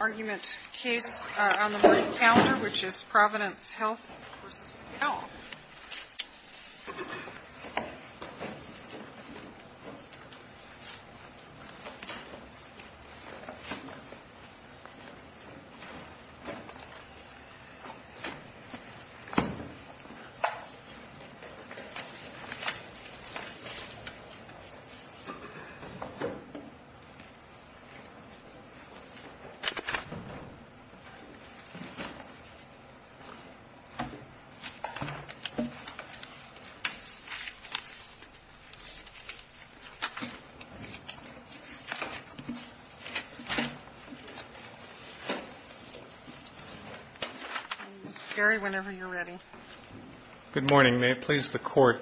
Argument case on the right calendar which is Providence Health v. McDowell Good morning. May it please the Court,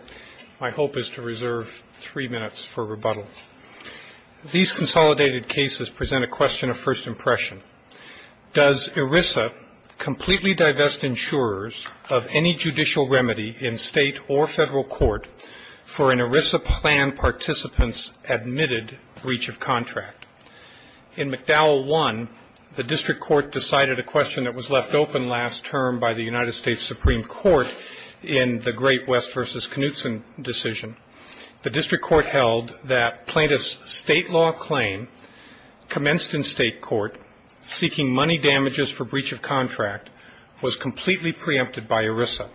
my hope is to reserve three minutes for rebuttal. These consolidated cases present a question of first impression. Does ERISA completely divest insurers of any judicial remedy in state or federal court for an ERISA plan participant's admitted breach of contract? In McDowell 1, the district court decided a question that was left open last term by the United States Supreme Court in the Great West v. Knutson decision. The district court held that plaintiff's state law claim commenced in state court seeking money damages for breach of contract was completely preempted by ERISA.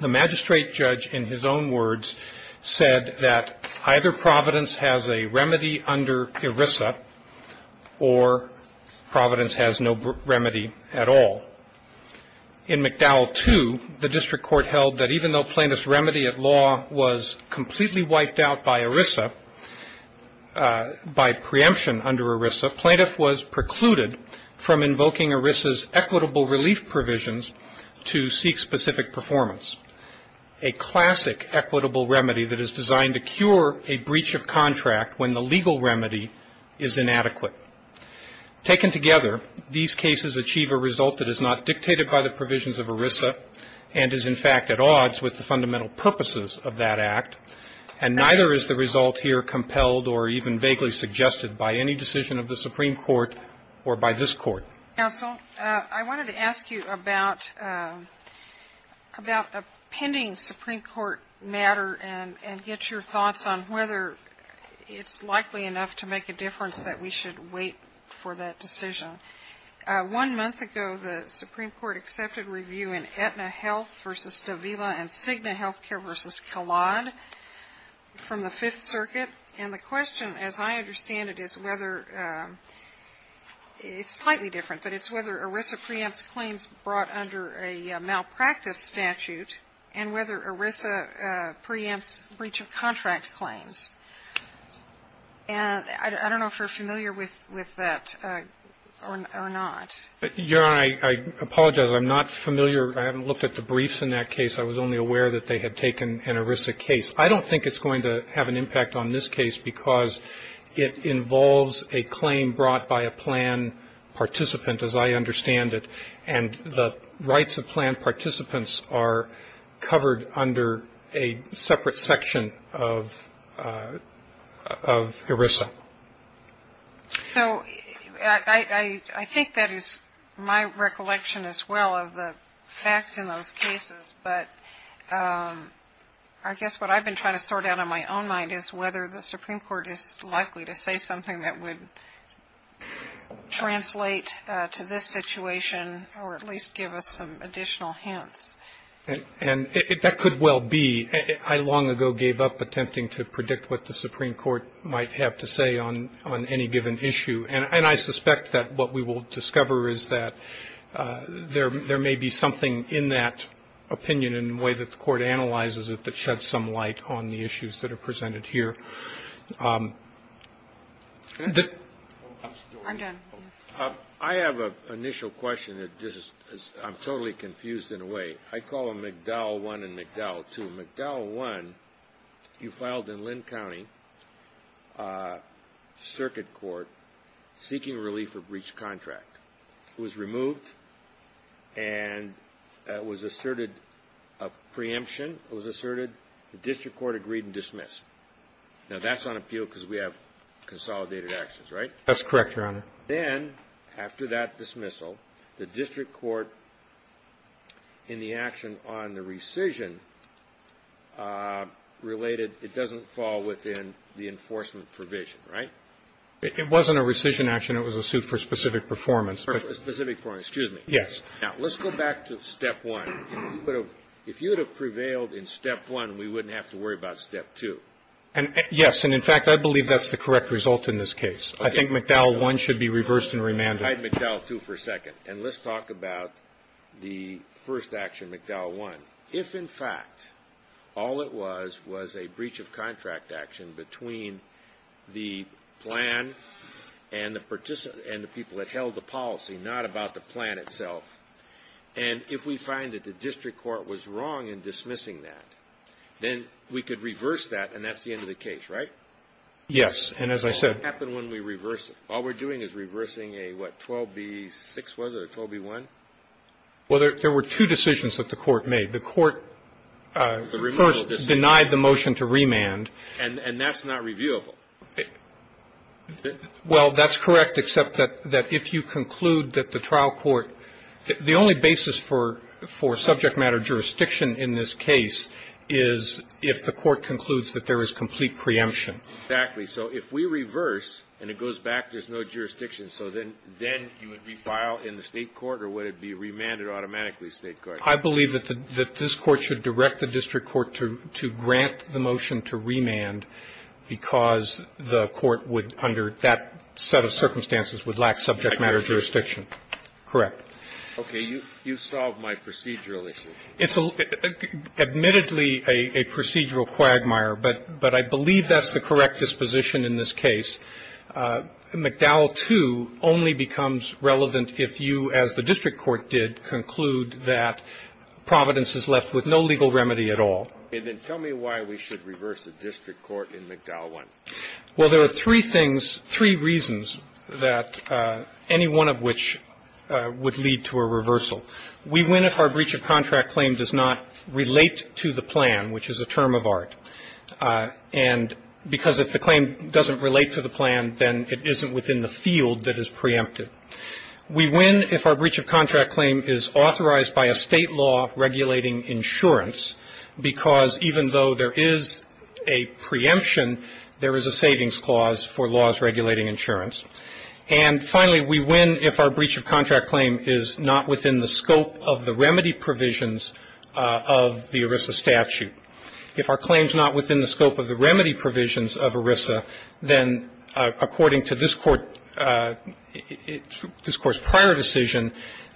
The magistrate judge in his own words said that either Providence has a remedy under ERISA or Providence has no remedy at all. In McDowell 2, the district court held that even though plaintiff's remedy at law was completely wiped out by ERISA, by preemption under ERISA, plaintiff was precluded from invoking ERISA's equitable relief provisions to seek specific performance. A classic equitable remedy that is designed to cure a breach of contract when the legal remedy is inadequate. Taken together, these cases achieve a result that is not dictated by the provisions of ERISA and is, in fact, at odds with the fundamental purposes of that act, and neither is the result here compelled or even vaguely suggested by any decision of the Supreme Court or by this Court. Counsel, I wanted to ask you about a pending Supreme Court matter and get your thoughts on whether it's likely enough to make a difference that we should wait for that decision. One month ago, the Supreme Court accepted review in Aetna Health v. Davila and Cigna Health Care v. Calad from the Fifth Circuit. And the question, as I understand it, is whether – it's slightly different, but it's whether ERISA preempts claims brought under a malpractice statute and whether ERISA preempts breach of contract claims. And I don't know if you're familiar with that or not. Your Honor, I apologize. I'm not familiar. I haven't looked at the briefs in that case. I was only aware that they had taken an ERISA case. I don't think it's going to have an impact on this case because it involves a claim brought by a plan participant, as I understand it, and the rights of plan participants are covered under a separate section of ERISA. So I think that is my recollection as well of the facts in those cases. But I guess what I've been trying to sort out in my own mind is whether the Supreme Court is likely to say something that would translate to this situation or at least give us some additional hints. And that could well be. I long ago gave up attempting to predict what the Supreme Court might have to say on any given issue. And I suspect that what we will discover is that there may be something in that opinion in the way that the Court analyzes it that sheds some light on the issues that are presented here. I have an initial question that I'm totally confused in a way. I call them McDowell I and McDowell II. So McDowell I, you filed in Linn County Circuit Court seeking relief for breach contract. It was removed and it was asserted a preemption. It was asserted the district court agreed and dismissed. Now that's on appeal because we have consolidated actions, right? That's correct, Your Honor. Then after that dismissal, the district court in the action on the rescission related, it doesn't fall within the enforcement provision, right? It wasn't a rescission action. It was a suit for specific performance. For specific performance. Excuse me. Yes. Now let's go back to step one. If you would have prevailed in step one, we wouldn't have to worry about step two. Yes. And in fact, I believe that's the correct result in this case. I think McDowell I should be reversed and remanded. I have McDowell II for a second. And let's talk about the first action, McDowell I. If, in fact, all it was was a breach of contract action between the plan and the people that held the policy, not about the plan itself, and if we find that the district court was wrong in dismissing that, then we could reverse that and that's the end of the case, right? Yes. And as I said. What happens when we reverse it? All we're doing is reversing a, what, 12B6 was it or 12B1? Well, there were two decisions that the court made. The court first denied the motion to remand. And that's not reviewable. Well, that's correct, except that if you conclude that the trial court, the only basis for subject matter jurisdiction in this case is if the court concludes that there is complete preemption. Exactly. So if we reverse and it goes back, there's no jurisdiction. So then you would refile in the State court or would it be remanded automatically to the State court? I believe that this court should direct the district court to grant the motion to remand because the court would, under that set of circumstances, would lack subject matter jurisdiction. Correct. You solved my procedural issue. It's admittedly a procedural quagmire, but I believe that's the correct disposition in this case. McDowell 2 only becomes relevant if you, as the district court did, conclude that Providence is left with no legal remedy at all. And then tell me why we should reverse the district court in McDowell 1. Well, there are three things, three reasons that any one of which would lead to a reversal. We win if our breach of contract claim does not relate to the plan, which is a term of art. And because if the claim doesn't relate to the plan, then it isn't within the field that is preempted. We win if our breach of contract claim is authorized by a State law regulating insurance because even though there is a preemption, there is a savings clause for laws regulating insurance. And finally, we win if our breach of contract claim is not within the scope of the remedy provisions of the ERISA statute. If our claim is not within the scope of the remedy provisions of ERISA, then according to this Court's prior decision,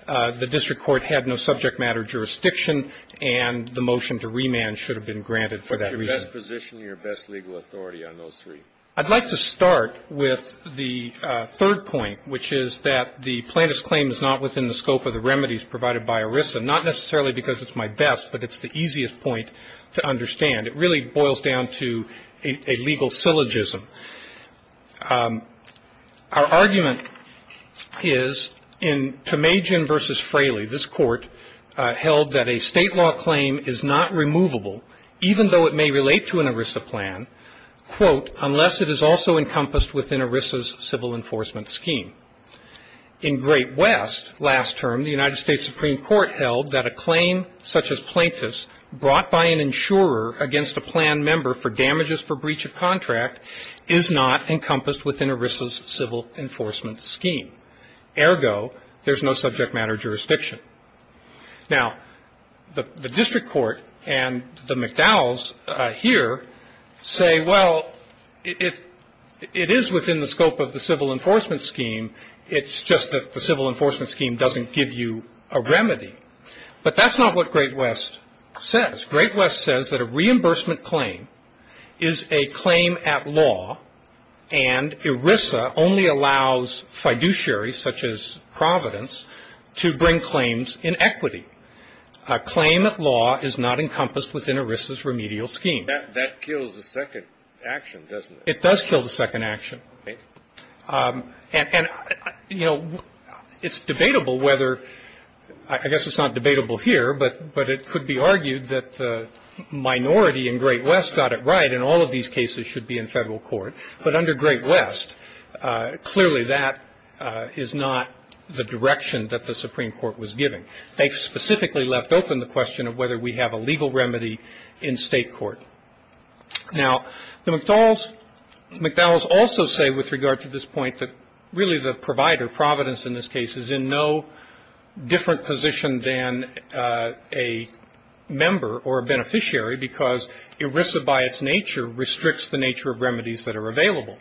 the district court had no subject matter jurisdiction and the motion to remand should have been granted for that reason. What's your best position and your best legal authority on those three? I'd like to start with the third point, which is that the plaintiff's claim is not within the scope of the remedies provided by ERISA, not necessarily because it's my best, but it's the easiest point to understand. It really boils down to a legal syllogism. Our argument is in Tomajian v. Fraley, this Court held that a State law claim is not removable even though it may relate to an ERISA plan, quote, unless it is also encompassed within ERISA's civil enforcement scheme. In Great West, last term, the United States Supreme Court held that a claim such as plaintiff's brought by an insurer against a planned member for damages for breach of contract is not encompassed within ERISA's civil enforcement scheme. Ergo, there's no subject matter jurisdiction. Now, the district court and the McDowell's here say, well, it is within the scope of the civil enforcement scheme. It's just that the civil enforcement scheme doesn't give you a remedy. But that's not what Great West says. Great West says that a reimbursement claim is a claim at law, and ERISA only allows fiduciaries such as Providence to bring claims in equity. A claim at law is not encompassed within ERISA's remedial scheme. That kills the second action, doesn't it? It does kill the second action. And, you know, it's debatable whether – I guess it's not debatable here, but it could be argued that the minority in Great West got it right, and all of these cases should be in federal court. But under Great West, clearly that is not the direction that the Supreme Court was giving. They specifically left open the question of whether we have a legal remedy in state court. Now, the McDowell's also say with regard to this point that really the provider, Providence, in this case, is in no different position than a member or a beneficiary because ERISA by its nature restricts the nature of remedies that are available.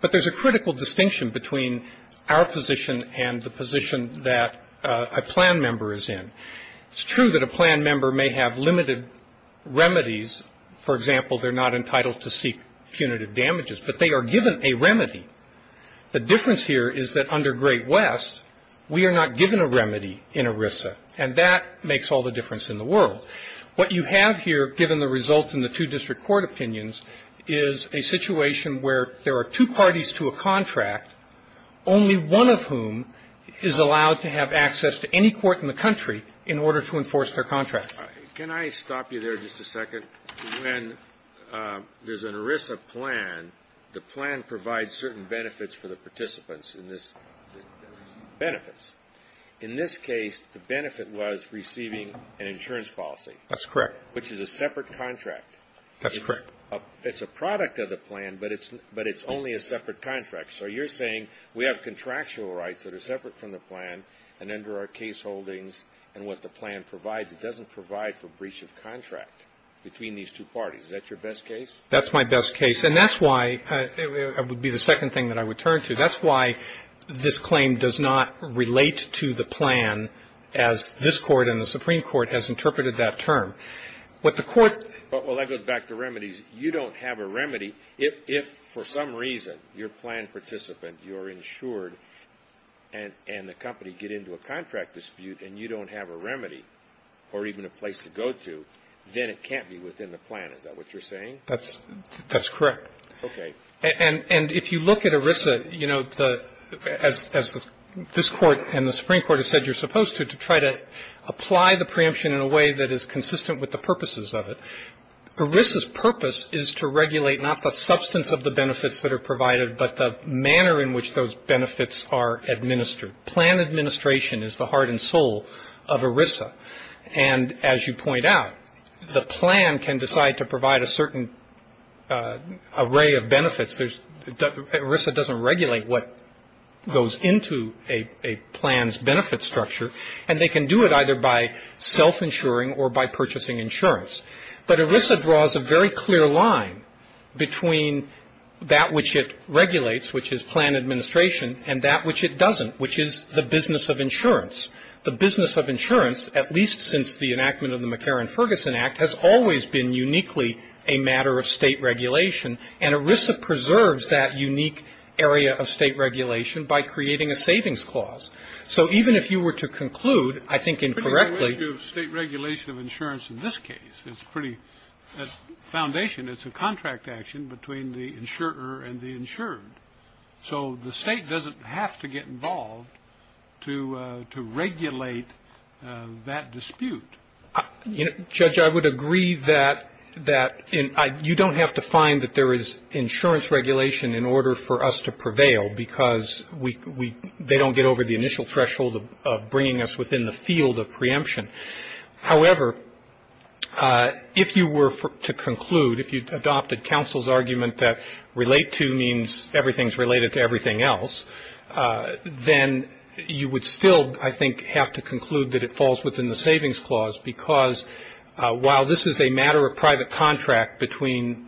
But there's a critical distinction between our position and the position that a plan member is in. It's true that a plan member may have limited remedies. For example, they're not entitled to seek punitive damages, but they are given a remedy. The difference here is that under Great West, we are not given a remedy in ERISA, and that makes all the difference in the world. What you have here, given the results in the two district court opinions, is a situation where there are two parties to a contract, only one of whom is allowed to have access to any court in the country in order to enforce their contract. Can I stop you there just a second? When there's an ERISA plan, the plan provides certain benefits for the participants in this benefits. In this case, the benefit was receiving an insurance policy. That's correct. Which is a separate contract. That's correct. It's a product of the plan, but it's only a separate contract. So you're saying we have contractual rights that are separate from the plan, and under our case holdings and what the plan provides, it doesn't provide for breach of contract between these two parties. Is that your best case? That's my best case. And that's why it would be the second thing that I would turn to. That's why this claim does not relate to the plan as this court and the Supreme Court has interpreted that term. What the court… Well, that goes back to remedies. You don't have a remedy. If, for some reason, you're a plan participant, you're insured, and the company get into a contract dispute and you don't have a remedy or even a place to go to, then it can't be within the plan. Is that what you're saying? That's correct. Okay. And if you look at ERISA, you know, as this court and the Supreme Court have said you're supposed to, to try to apply the preemption in a way that is consistent with the purposes of it, ERISA's purpose is to regulate not the substance of the benefits that are provided, but the manner in which those benefits are administered. Plan administration is the heart and soul of ERISA. And as you point out, the plan can decide to provide a certain array of benefits. ERISA doesn't regulate what goes into a plan's benefit structure, and they can do it either by self-insuring or by purchasing insurance. But ERISA draws a very clear line between that which it regulates, which is plan administration, and that which it doesn't, which is the business of insurance. The business of insurance, at least since the enactment of the McCarran-Ferguson Act, has always been uniquely a matter of state regulation, and ERISA preserves that unique area of state regulation by creating a savings clause. So even if you were to conclude, I think incorrectly. State regulation of insurance in this case is pretty foundation. It's a contract action between the insurer and the insured. So the state doesn't have to get involved to regulate that dispute. Judge, I would agree that you don't have to find that there is insurance regulation in order for us to prevail because they don't get over the initial threshold of bringing us within the field of preemption. However, if you were to conclude, if you adopted counsel's argument that relate to means everything is related to everything else, then you would still, I think, have to conclude that it falls within the savings clause because while this is a matter of private contract between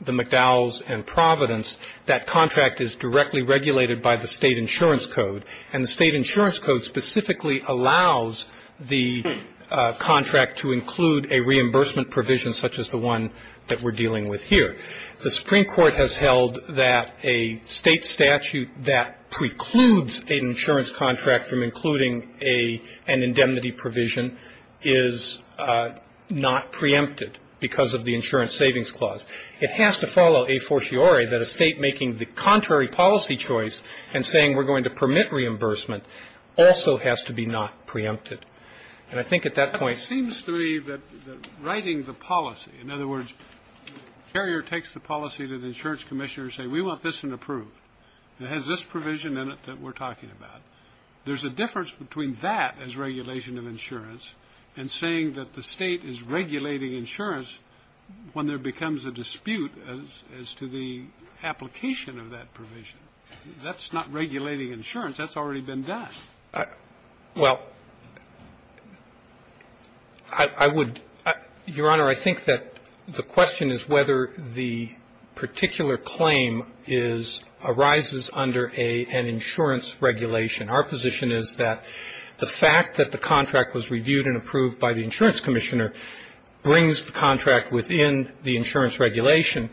the McDowells and Providence, that contract is directly regulated by the state insurance code, and the state insurance code specifically allows the contract to include a reimbursement provision, such as the one that we're dealing with here. The Supreme Court has held that a state statute that precludes an insurance contract from including an indemnity provision is not preempted because of the insurance savings clause. It has to follow a fortiori that a state making the contrary policy choice and saying we're going to permit reimbursement also has to be not preempted. And I think at that point ‑‑ It seems to me that writing the policy, in other words, Carrier takes the policy to the insurance commissioner and says we want this approved. It has this provision in it that we're talking about. There's a difference between that as regulation of insurance and saying that the state is regulating insurance when there becomes a dispute as to the application of that provision. That's not regulating insurance. That's already been done. Well, I would ‑‑ Your Honor, I think that the question is whether the particular claim is ‑‑ arises under an insurance regulation. Our position is that the fact that the contract was reviewed and approved by the insurance commissioner brings the contract within the insurance regulation.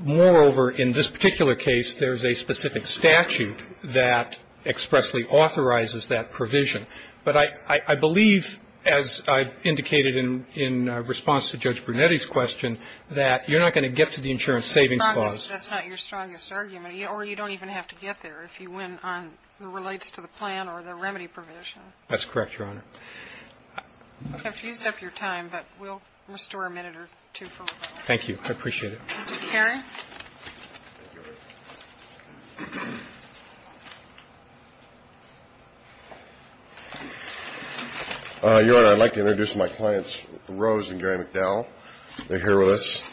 Moreover, in this particular case, there's a specific statute that expressly authorizes that provision. But I believe, as I've indicated in response to Judge Brunetti's question, that you're not going to get to the insurance savings clause. That's not your strongest argument. Or you don't even have to get there if you went on what relates to the plan or the remedy provision. That's correct, Your Honor. I've fused up your time, but we'll restore a minute or two. Thank you. I appreciate it. Your Honor, I'd like to introduce my clients, Rose and Gary McDowell. They're here with us.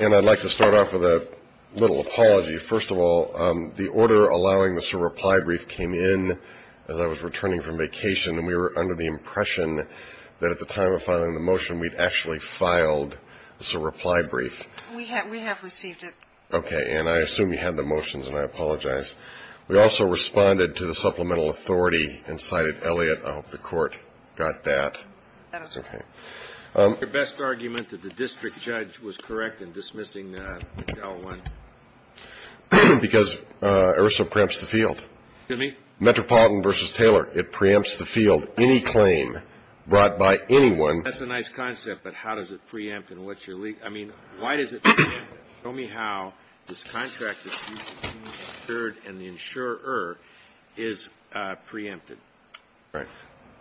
And I'd like to start off with a little apology. First of all, the order allowing us to reply brief came in as I was returning from vacation, and we were under the impression that at the time of filing the motion we'd actually filed the reply brief. We have received it. Okay. And I assume you had the motions, and I apologize. We also responded to the supplemental authority and cited Elliott. I hope the Court got that. That is correct. Okay. Your best argument that the district judge was correct in dismissing McDowell won. Because IHRSA preempts the field. Excuse me? Metropolitan v. Taylor. It preempts the field. Any claim brought by anyone. That's a nice concept, but how does it preempt and what's your lead? I mean, why does it preempt it? Show me how this contract is preempted and the insurer is preempted.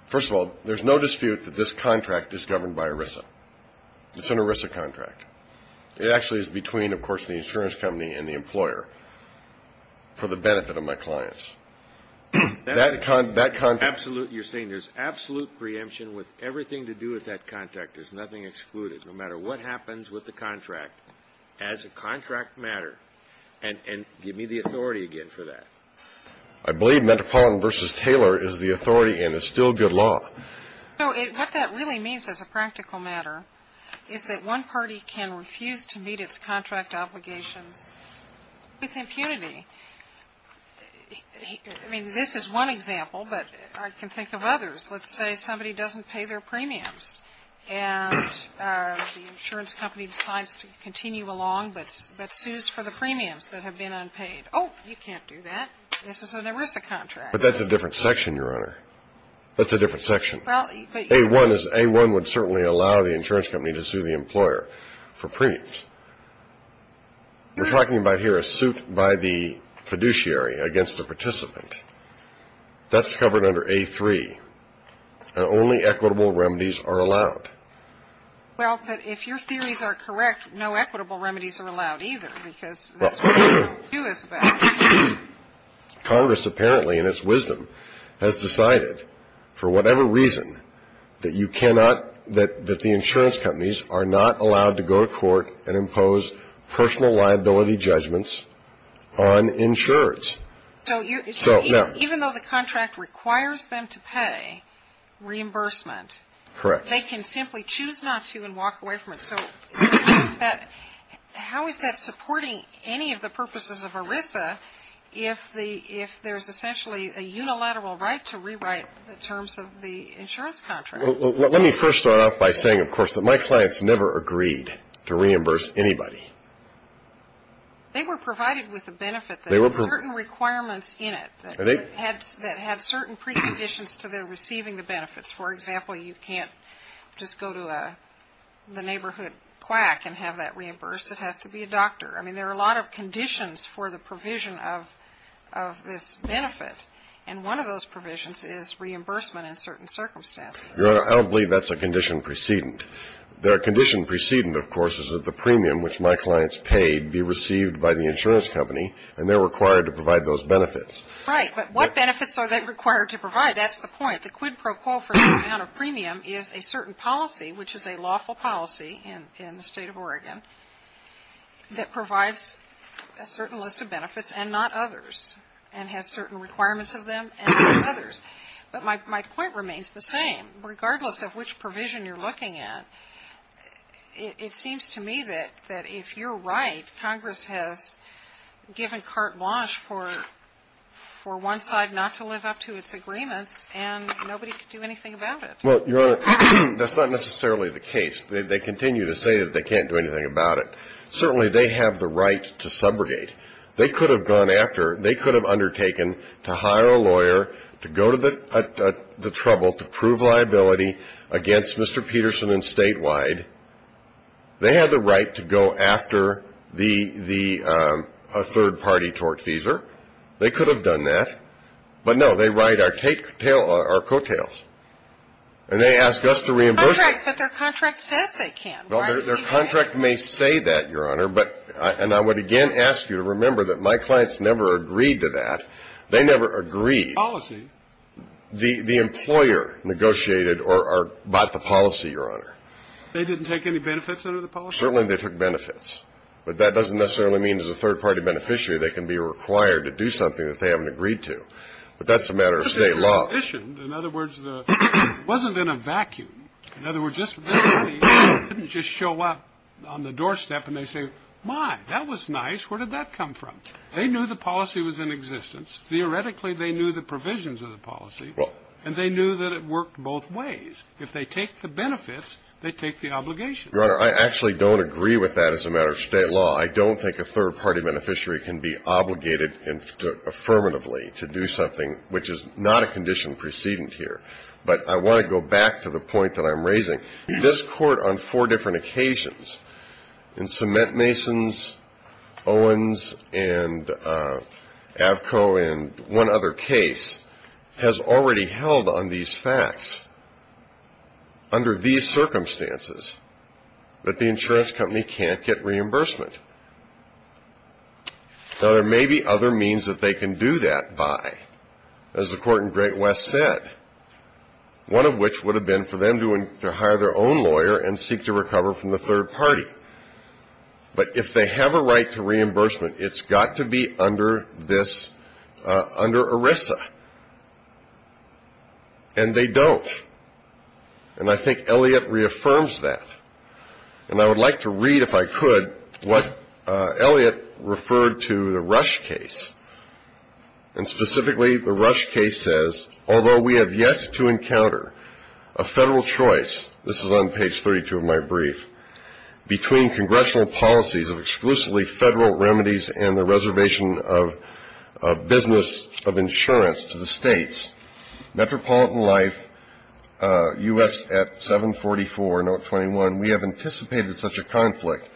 First of all, there's no dispute that this contract is governed by IHRSA. It's an IHRSA contract. It actually is between, of course, the insurance company and the employer for the benefit of my clients. You're saying there's absolute preemption with everything to do with that contract. There's nothing excluded. No matter what happens with the contract, as a contract matter, and give me the authority again for that. I believe Metropolitan v. Taylor is the authority and is still good law. What that really means as a practical matter is that one party can refuse to meet its contract obligations with impunity. I mean, this is one example, but I can think of others. Let's say somebody doesn't pay their premiums and the insurance company decides to continue along but sues for the premiums that have been unpaid. Oh, you can't do that. This is an IHRSA contract. But that's a different section, Your Honor. That's a different section. A-1 would certainly allow the insurance company to sue the employer for premiums. We're talking about here a suit by the fiduciary against the participant. That's covered under A-3. Only equitable remedies are allowed. Well, but if your theories are correct, no equitable remedies are allowed either, because that's what A-2 is about. Congress apparently in its wisdom has decided for whatever reason that you cannot that the insurance companies are not allowed to go to court and impose personal liability judgments on insurance. So even though the contract requires them to pay reimbursement, they can simply choose not to and walk away from it. So how is that supporting any of the purposes of ERISA if there's essentially a unilateral right to rewrite the terms of the insurance contract? Well, let me first start off by saying, of course, that my clients never agreed to reimburse anybody. They were provided with a benefit that had certain requirements in it, that had certain preconditions to their receiving the benefits. For example, you can't just go to the neighborhood quack and have that reimbursed. It has to be a doctor. I mean, there are a lot of conditions for the provision of this benefit, and one of those provisions is reimbursement in certain circumstances. Your Honor, I don't believe that's a condition precedent. The condition precedent, of course, is that the premium which my clients paid be received by the insurance company, and they're required to provide those benefits. Right. But what benefits are they required to provide? That's the point. The quid pro quo for the amount of premium is a certain policy, which is a lawful policy in the State of Oregon, that provides a certain list of benefits and not others, and has certain requirements of them and others. But my point remains the same. Regardless of which provision you're looking at, it seems to me that if you're right, Congress has given carte blanche for one side not to live up to its agreements, and nobody could do anything about it. Well, Your Honor, that's not necessarily the case. They continue to say that they can't do anything about it. Certainly they have the right to subrogate. They could have undertaken to hire a lawyer to go to the trouble to prove liability against Mr. Peterson and statewide. They have the right to go after a third-party tortfeasor. They could have done that. But, no, they write our coattails. And they ask us to reimburse them. But their contract says they can't. Well, their contract may say that, Your Honor. And I would again ask you to remember that my clients never agreed to that. They never agreed. The employer negotiated or bought the policy, Your Honor. They didn't take any benefits under the policy? Certainly they took benefits. But that doesn't necessarily mean as a third-party beneficiary they can be required to do something that they haven't agreed to. But that's a matter of state law. In other words, it wasn't in a vacuum. In other words, they didn't just show up on the doorstep and they say, My, that was nice. Where did that come from? They knew the policy was in existence. Theoretically, they knew the provisions of the policy. And they knew that it worked both ways. If they take the benefits, they take the obligations. Your Honor, I actually don't agree with that as a matter of state law. I don't think a third-party beneficiary can be obligated affirmatively to do something which is not a condition precedent here. But I want to go back to the point that I'm raising. This Court on four different occasions, in Cement Masons, Owens, and Avco, and one other case, has already held on these facts under these circumstances that the insurance company can't get reimbursement. Now, there may be other means that they can do that by. As the Court in Great West said, one of which would have been for them to hire their own lawyer and seek to recover from the third party. But if they have a right to reimbursement, it's got to be under ERISA. And they don't. And I think Elliott reaffirms that. And I would like to read, if I could, what Elliott referred to the Rush case, and specifically the Rush case says, although we have yet to encounter a federal choice, this is on page 32 of my brief, between congressional policies of exclusively federal remedies and the reservation of business of insurance to the states, Metropolitan Life, U.S. at 744, note 21, we have anticipated such a conflict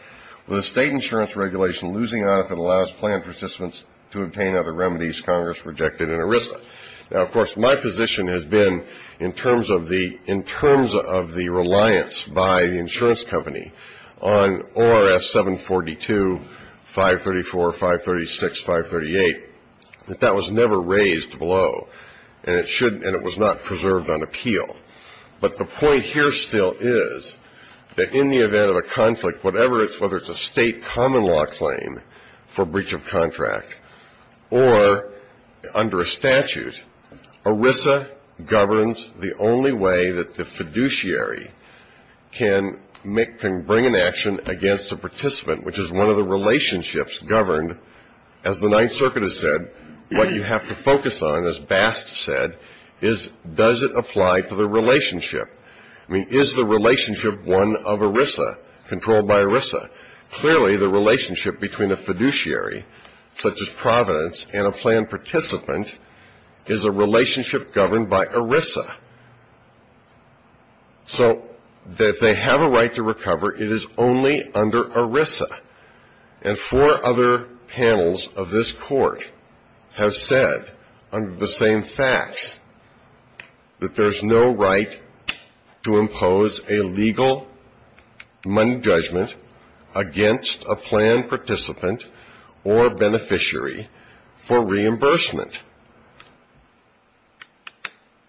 with a state insurance regulation losing out that allows planned participants to obtain other remedies Congress rejected in ERISA. Now, of course, my position has been in terms of the reliance by the insurance company on ORS 742, 534, 536, 538, that that was never raised below, and it was not preserved on appeal. But the point here still is that in the event of a conflict, whether it's a state common law claim for breach of contract or under a statute, ERISA governs the only way that the fiduciary can bring an action against a participant, which is one of the relationships governed, as the Ninth Circuit has said, what you have to focus on, as Bast said, is does it apply to the relationship. I mean, is the relationship one of ERISA, controlled by ERISA. Clearly, the relationship between a fiduciary, such as Providence, and a planned participant is a relationship governed by ERISA. So if they have a right to recover, it is only under ERISA. And four other panels of this Court have said, under the same facts, that there's no right to impose a legal money judgment against a planned participant or beneficiary for reimbursement.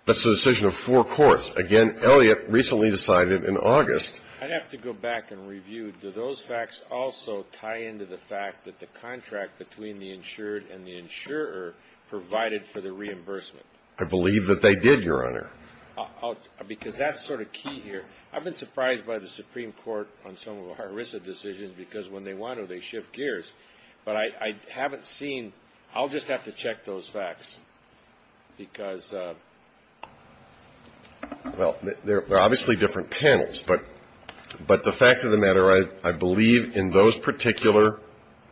That's a decision of four courts. Again, Elliott recently decided in August. I'd have to go back and review. Do those facts also tie into the fact that the contract between the insured and the insurer provided for the reimbursement? I believe that they did, Your Honor. Because that's sort of key here. I've been surprised by the Supreme Court on some of our ERISA decisions, because when they want to, they shift gears. But I haven't seen – I'll just have to check those facts, because – well, they're obviously different panels. But the fact of the matter, I believe in those particular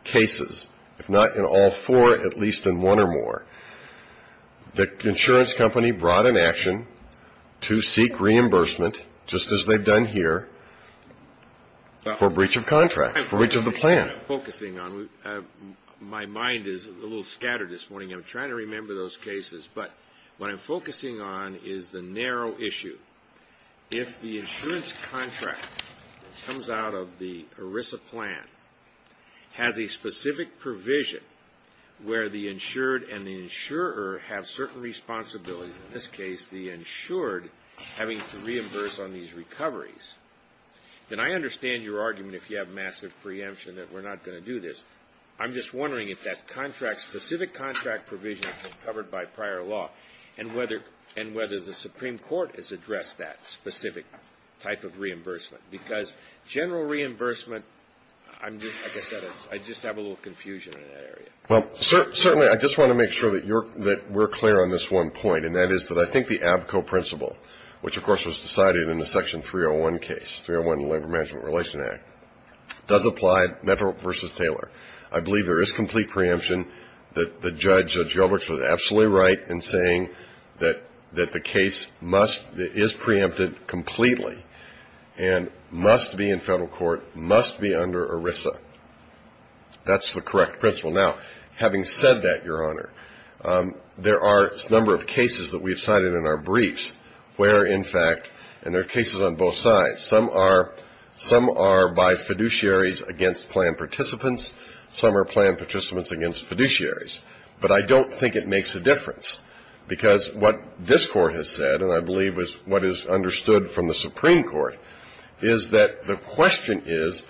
cases, if not in all four, at least in one or more, the insurance company brought an action to seek reimbursement, just as they've done here, for breach of contract, for breach of the plan. I'm focusing on – my mind is a little scattered this morning. I'm trying to remember those cases. But what I'm focusing on is the narrow issue. If the insurance contract that comes out of the ERISA plan has a specific provision where the insured and the insurer have certain responsibilities, in this case the insured having to reimburse on these recoveries, then I understand your argument, if you have massive preemption, that we're not going to do this. I'm just wondering if that specific contract provision is covered by prior law and whether the Supreme Court has addressed that specific type of reimbursement, because general reimbursement – I just have a little confusion in that area. Well, certainly I just want to make sure that we're clear on this one point, and that is that I think the ABCO principle, which of course was decided in the Section 301 case, does apply, Metro versus Taylor. I believe there is complete preemption. The judge, Judge Yelbrich, was absolutely right in saying that the case is preempted completely and must be in federal court, must be under ERISA. That's the correct principle. Now, having said that, Your Honor, there are a number of cases that we have cited in our briefs where, in fact, and there are cases on both sides. Some are by fiduciaries against planned participants. Some are planned participants against fiduciaries. But I don't think it makes a difference, because what this Court has said, and I believe is what is understood from the Supreme Court, is that the question is,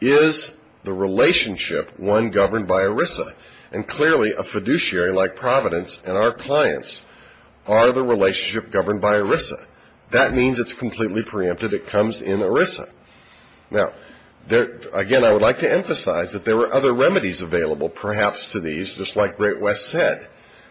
is the relationship one governed by ERISA? And clearly, a fiduciary like Providence and our clients are the relationship governed by ERISA. That means it's completely preempted. It comes in ERISA. Now, again, I would like to emphasize that there were other remedies available perhaps to these, just like Great West said,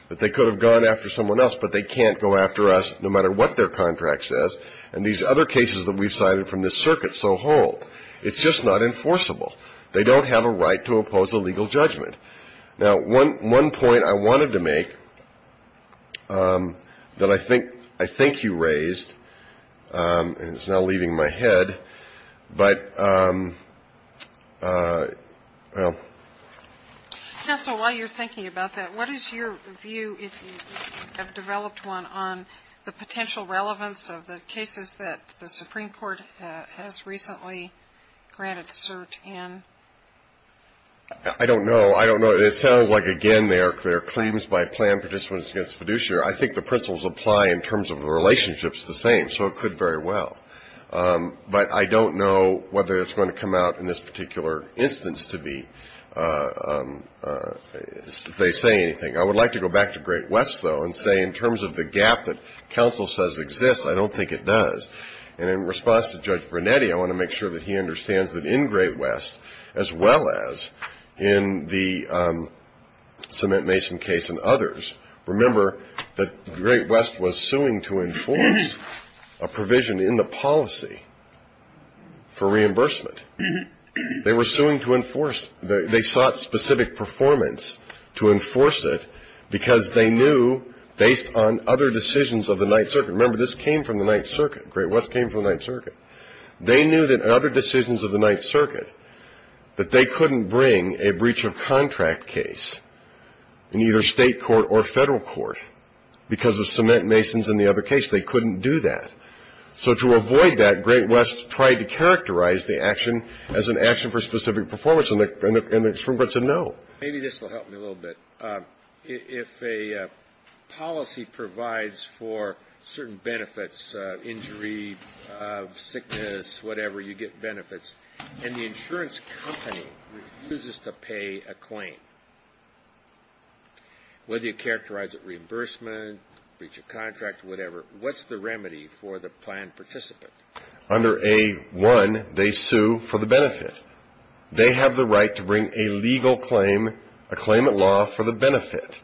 that they could have gone after someone else, but they can't go after us no matter what their contract says. And these other cases that we've cited from this circuit so hold. It's just not enforceable. They don't have a right to oppose a legal judgment. Now, one point I wanted to make that I think you raised, and it's now leaving my head, but, well. Counsel, while you're thinking about that, what is your view, if you have developed one, on the potential relevance of the cases that the Supreme Court has recently granted cert in? I don't know. I don't know. It sounds like, again, there are claims by planned participants against fiduciary. I think the principles apply in terms of the relationships the same, so it could very well. But I don't know whether it's going to come out in this particular instance to be, if they say anything. I would like to go back to Great West, though, and say in terms of the gap that counsel says exists, I don't think it does. And in response to Judge Brunetti, I want to make sure that he understands that in Great West, as well as in the Cement Mason case and others, remember that Great West was suing to enforce a provision in the policy for reimbursement. They were suing to enforce. They sought specific performance to enforce it because they knew, based on other decisions of the Ninth Circuit. Remember, this came from the Ninth Circuit. Great West came from the Ninth Circuit. They knew that other decisions of the Ninth Circuit, that they couldn't bring a breach of contract case in either state court or federal court because of Cement Masons and the other case. They couldn't do that. So to avoid that, Great West tried to characterize the action as an action for specific performance, and the Supreme Court said no. Maybe this will help me a little bit. If a policy provides for certain benefits, injury, sickness, whatever, you get benefits, and the insurance company refuses to pay a claim, whether you characterize it reimbursement, breach of contract, whatever, what's the remedy for the planned participant? Under A-1, they sue for the benefit. They have the right to bring a legal claim, a claim at law for the benefit.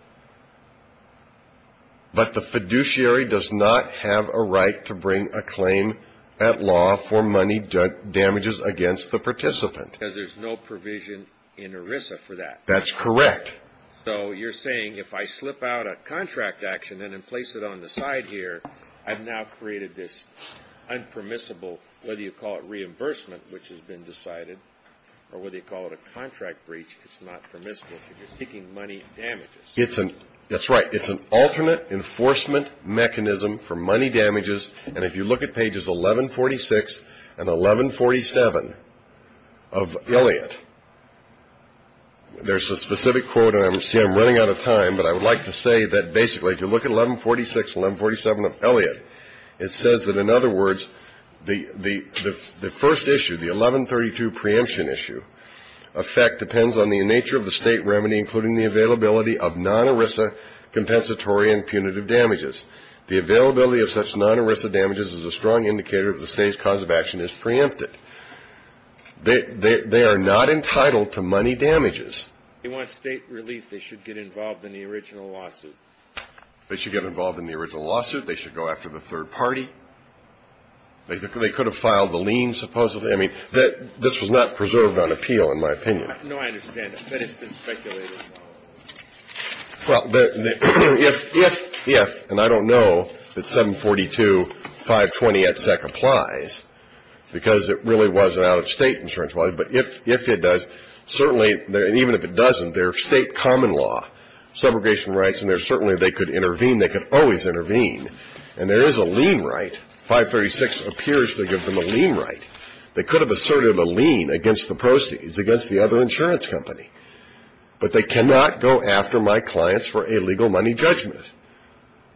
But the fiduciary does not have a right to bring a claim at law for money damages against the participant. Because there's no provision in ERISA for that. That's correct. So you're saying if I slip out a contract action and then place it on the side here, I've now created this unpermissible, whether you call it reimbursement, which has been decided, or whether you call it a contract breach, it's not permissible because you're seeking money damages. That's right. It's an alternate enforcement mechanism for money damages. And if you look at pages 1146 and 1147 of Elliott, there's a specific quote, and I'm running out of time, but I would like to say that basically if you look at 1146 and 1147 of Elliott, it says that, in other words, the first issue, the 1132 preemption issue, effect depends on the nature of the State remedy, including the availability of non-ERISA compensatory and punitive damages. The availability of such non-ERISA damages is a strong indicator that the State's cause of action is preempted. They are not entitled to money damages. If they want State relief, they should get involved in the original lawsuit. They should get involved in the original lawsuit. They should go after the third party. They could have filed the lien, supposedly. I mean, this was not preserved on appeal, in my opinion. No, I understand. That has been speculated. Well, if, and I don't know that 742.520et sec applies because it really was an out-of-State insurance policy, but if it does, certainly, and even if it doesn't, there are State common law, subrogation rights, and there certainly they could intervene. They could always intervene. And there is a lien right. 536 appears to give them a lien right. They could have asserted a lien against the proceeds, against the other insurance company. But they cannot go after my clients for a legal money judgment.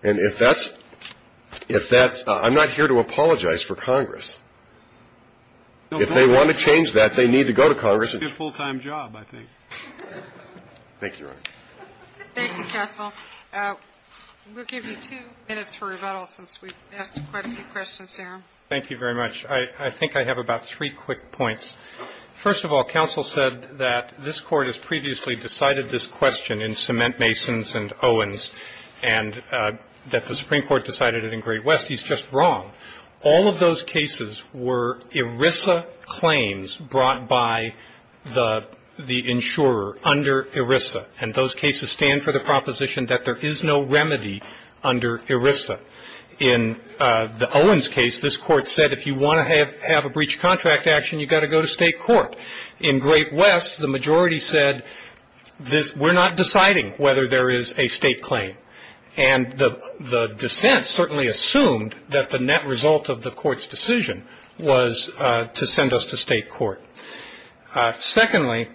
And if that's, if that's, I'm not here to apologize for Congress. If they want to change that, they need to go to Congress. That's a good full-time job, I think. Thank you, Your Honor. Thank you, counsel. We'll give you two minutes for rebuttal since we've asked quite a few questions, there. Thank you very much. I think I have about three quick points. First of all, counsel said that this Court has previously decided this question in Cement, Masons, and Owens, and that the Supreme Court decided it in Great West. He's just wrong. All of those cases were ERISA claims brought by the insurer under ERISA. And those cases stand for the proposition that there is no remedy under ERISA. In the Owens case, this Court said if you want to have a breach of contract action, you've got to go to state court. In Great West, the majority said we're not deciding whether there is a state claim. And the dissent certainly assumed that the net result of the Court's decision was to send us to state court. Secondly,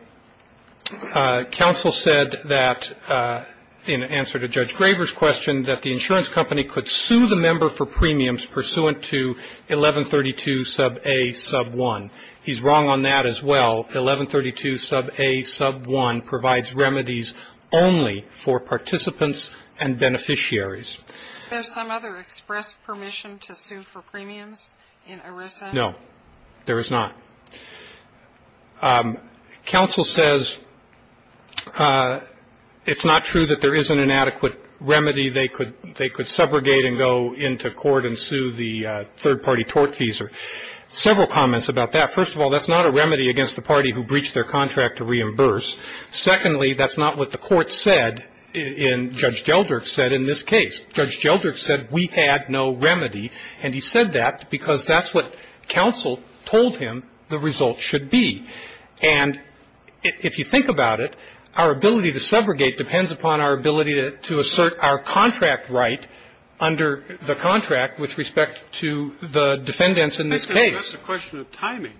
counsel said that, in answer to Judge Graber's question, that the insurance company could sue the member for premiums pursuant to 1132 sub a sub 1. He's wrong on that as well. 1132 sub a sub 1 provides remedies only for participants and beneficiaries. There's some other express permission to sue for premiums in ERISA? No, there is not. Counsel says it's not true that there is an inadequate remedy. They could subrogate and go into court and sue the third-party tort fees. Several comments about that. First of all, that's not a remedy against the party who breached their contract to reimburse. Secondly, that's not what the Court said in Judge Gelderk's case. Judge Gelderk said we had no remedy. And he said that because that's what counsel told him the result should be. And if you think about it, our ability to subrogate depends upon our ability to assert our contract right under the contract with respect to the defendants in this case. That's a question of timing.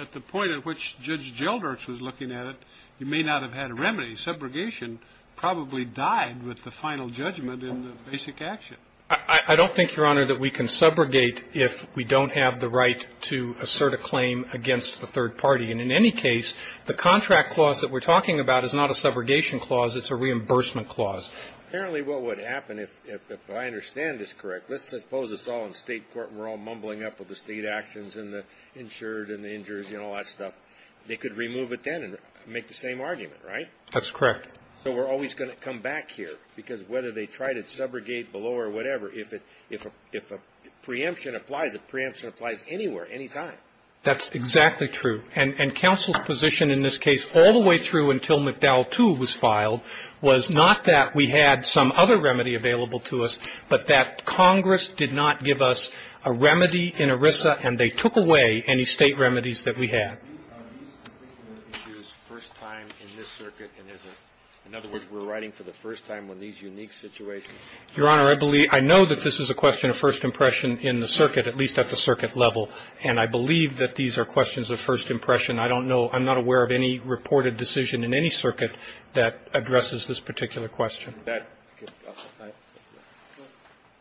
At the point at which Judge Gelderk's was looking at it, you may not have had a remedy. Subrogation probably died with the final judgment in the basic action. I don't think, Your Honor, that we can subrogate if we don't have the right to assert a claim against the third party. And in any case, the contract clause that we're talking about is not a subrogation clause. It's a reimbursement clause. Apparently what would happen, if I understand this correct, let's suppose it's all the state court and we're all mumbling up with the state actions and the insured and the injured and all that stuff, they could remove it then and make the same argument, right? That's correct. So we're always going to come back here, because whether they try to subrogate below or whatever, if a preemption applies, a preemption applies anywhere, anytime. That's exactly true. And counsel's position in this case all the way through until McDowell II was filed was not that we had some other remedy available to us, but that Congress did not give us a remedy in ERISA and they took away any State remedies that we had. In other words, we're writing for the first time on these unique situations? Your Honor, I believe – I know that this is a question of first impression in the circuit, at least at the circuit level. And I believe that these are questions of first impression. I don't know – I'm not aware of any reported decision in any circuit that addresses this particular question.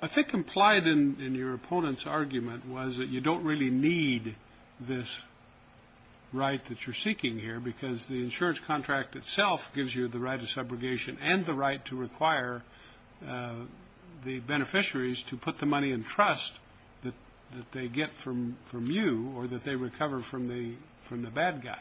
I think implied in your opponent's argument was that you don't really need this right that you're seeking here, because the insurance contract itself gives you the right of subrogation and the right to require the beneficiaries to put the money in trust that they get from you or that they recover from the bad guy.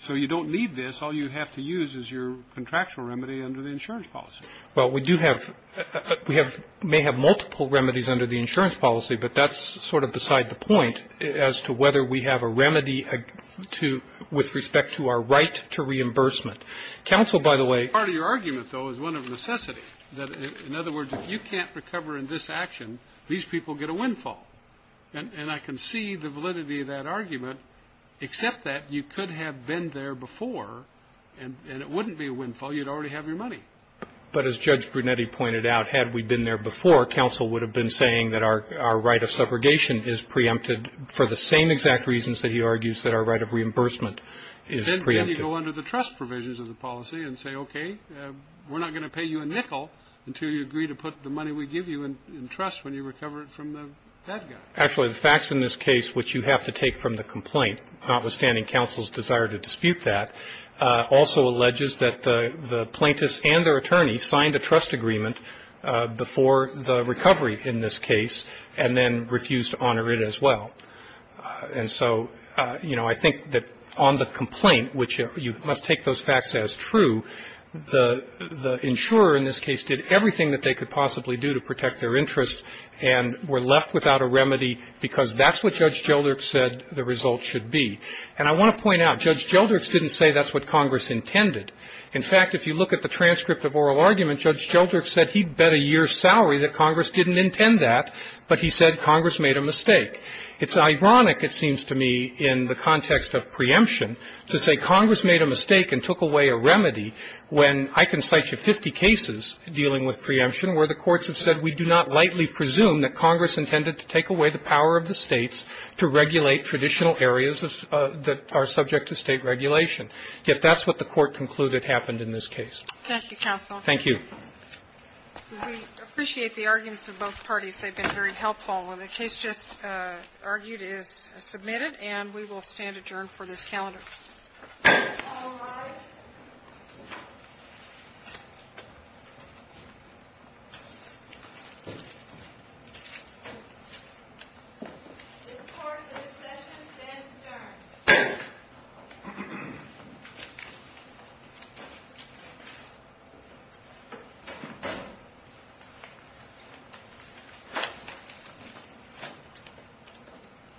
So you don't need this. All you have to use is your contractual remedy under the insurance policy. Well, we do have – we may have multiple remedies under the insurance policy, but that's sort of beside the point as to whether we have a remedy with respect to our right to reimbursement. Counsel, by the way – Part of your argument, though, is one of necessity. In other words, if you can't recover in this action, these people get a windfall. And I can see the validity of that argument, except that you could have been there before and it wouldn't be a windfall. You'd already have your money. But as Judge Brunetti pointed out, had we been there before, counsel would have been saying that our right of subrogation is preempted for the same exact reasons that he argues that our right of reimbursement is preempted. Then you go under the trust provisions of the policy and say, okay, we're not going to pay you a nickel until you agree to put the money we give you in trust when you recover it from the dead guy. Actually, the facts in this case, which you have to take from the complaint, notwithstanding counsel's desire to dispute that, also alleges that the plaintiffs and their attorneys signed a trust agreement before the recovery in this case and then refused to honor it as well. And so, you know, I think that on the complaint, which you must take those facts as true, the insurer in this case did everything that they could possibly do to protect their interest and were left without a remedy because that's what Judge Jeldrich said the result should be. And I want to point out, Judge Jeldrich didn't say that's what Congress intended. In fact, if you look at the transcript of oral argument, Judge Jeldrich said he'd bet a year's salary that Congress didn't intend that, but he said Congress made a mistake. It's ironic, it seems to me, in the context of preemption to say Congress made a mistake and took away a remedy when I can cite you 50 cases dealing with preemption where the courts have said we do not lightly presume that Congress intended to take away the power of the States to regulate traditional areas that are subject to State regulation. Yet that's what the Court concluded happened in this case. Thank you, counsel. Thank you. We appreciate the arguments of both parties. They've been very helpful. And the case just argued is submitted, and we will stand adjourned for this calendar. All rise. This part of the session stands adjourned.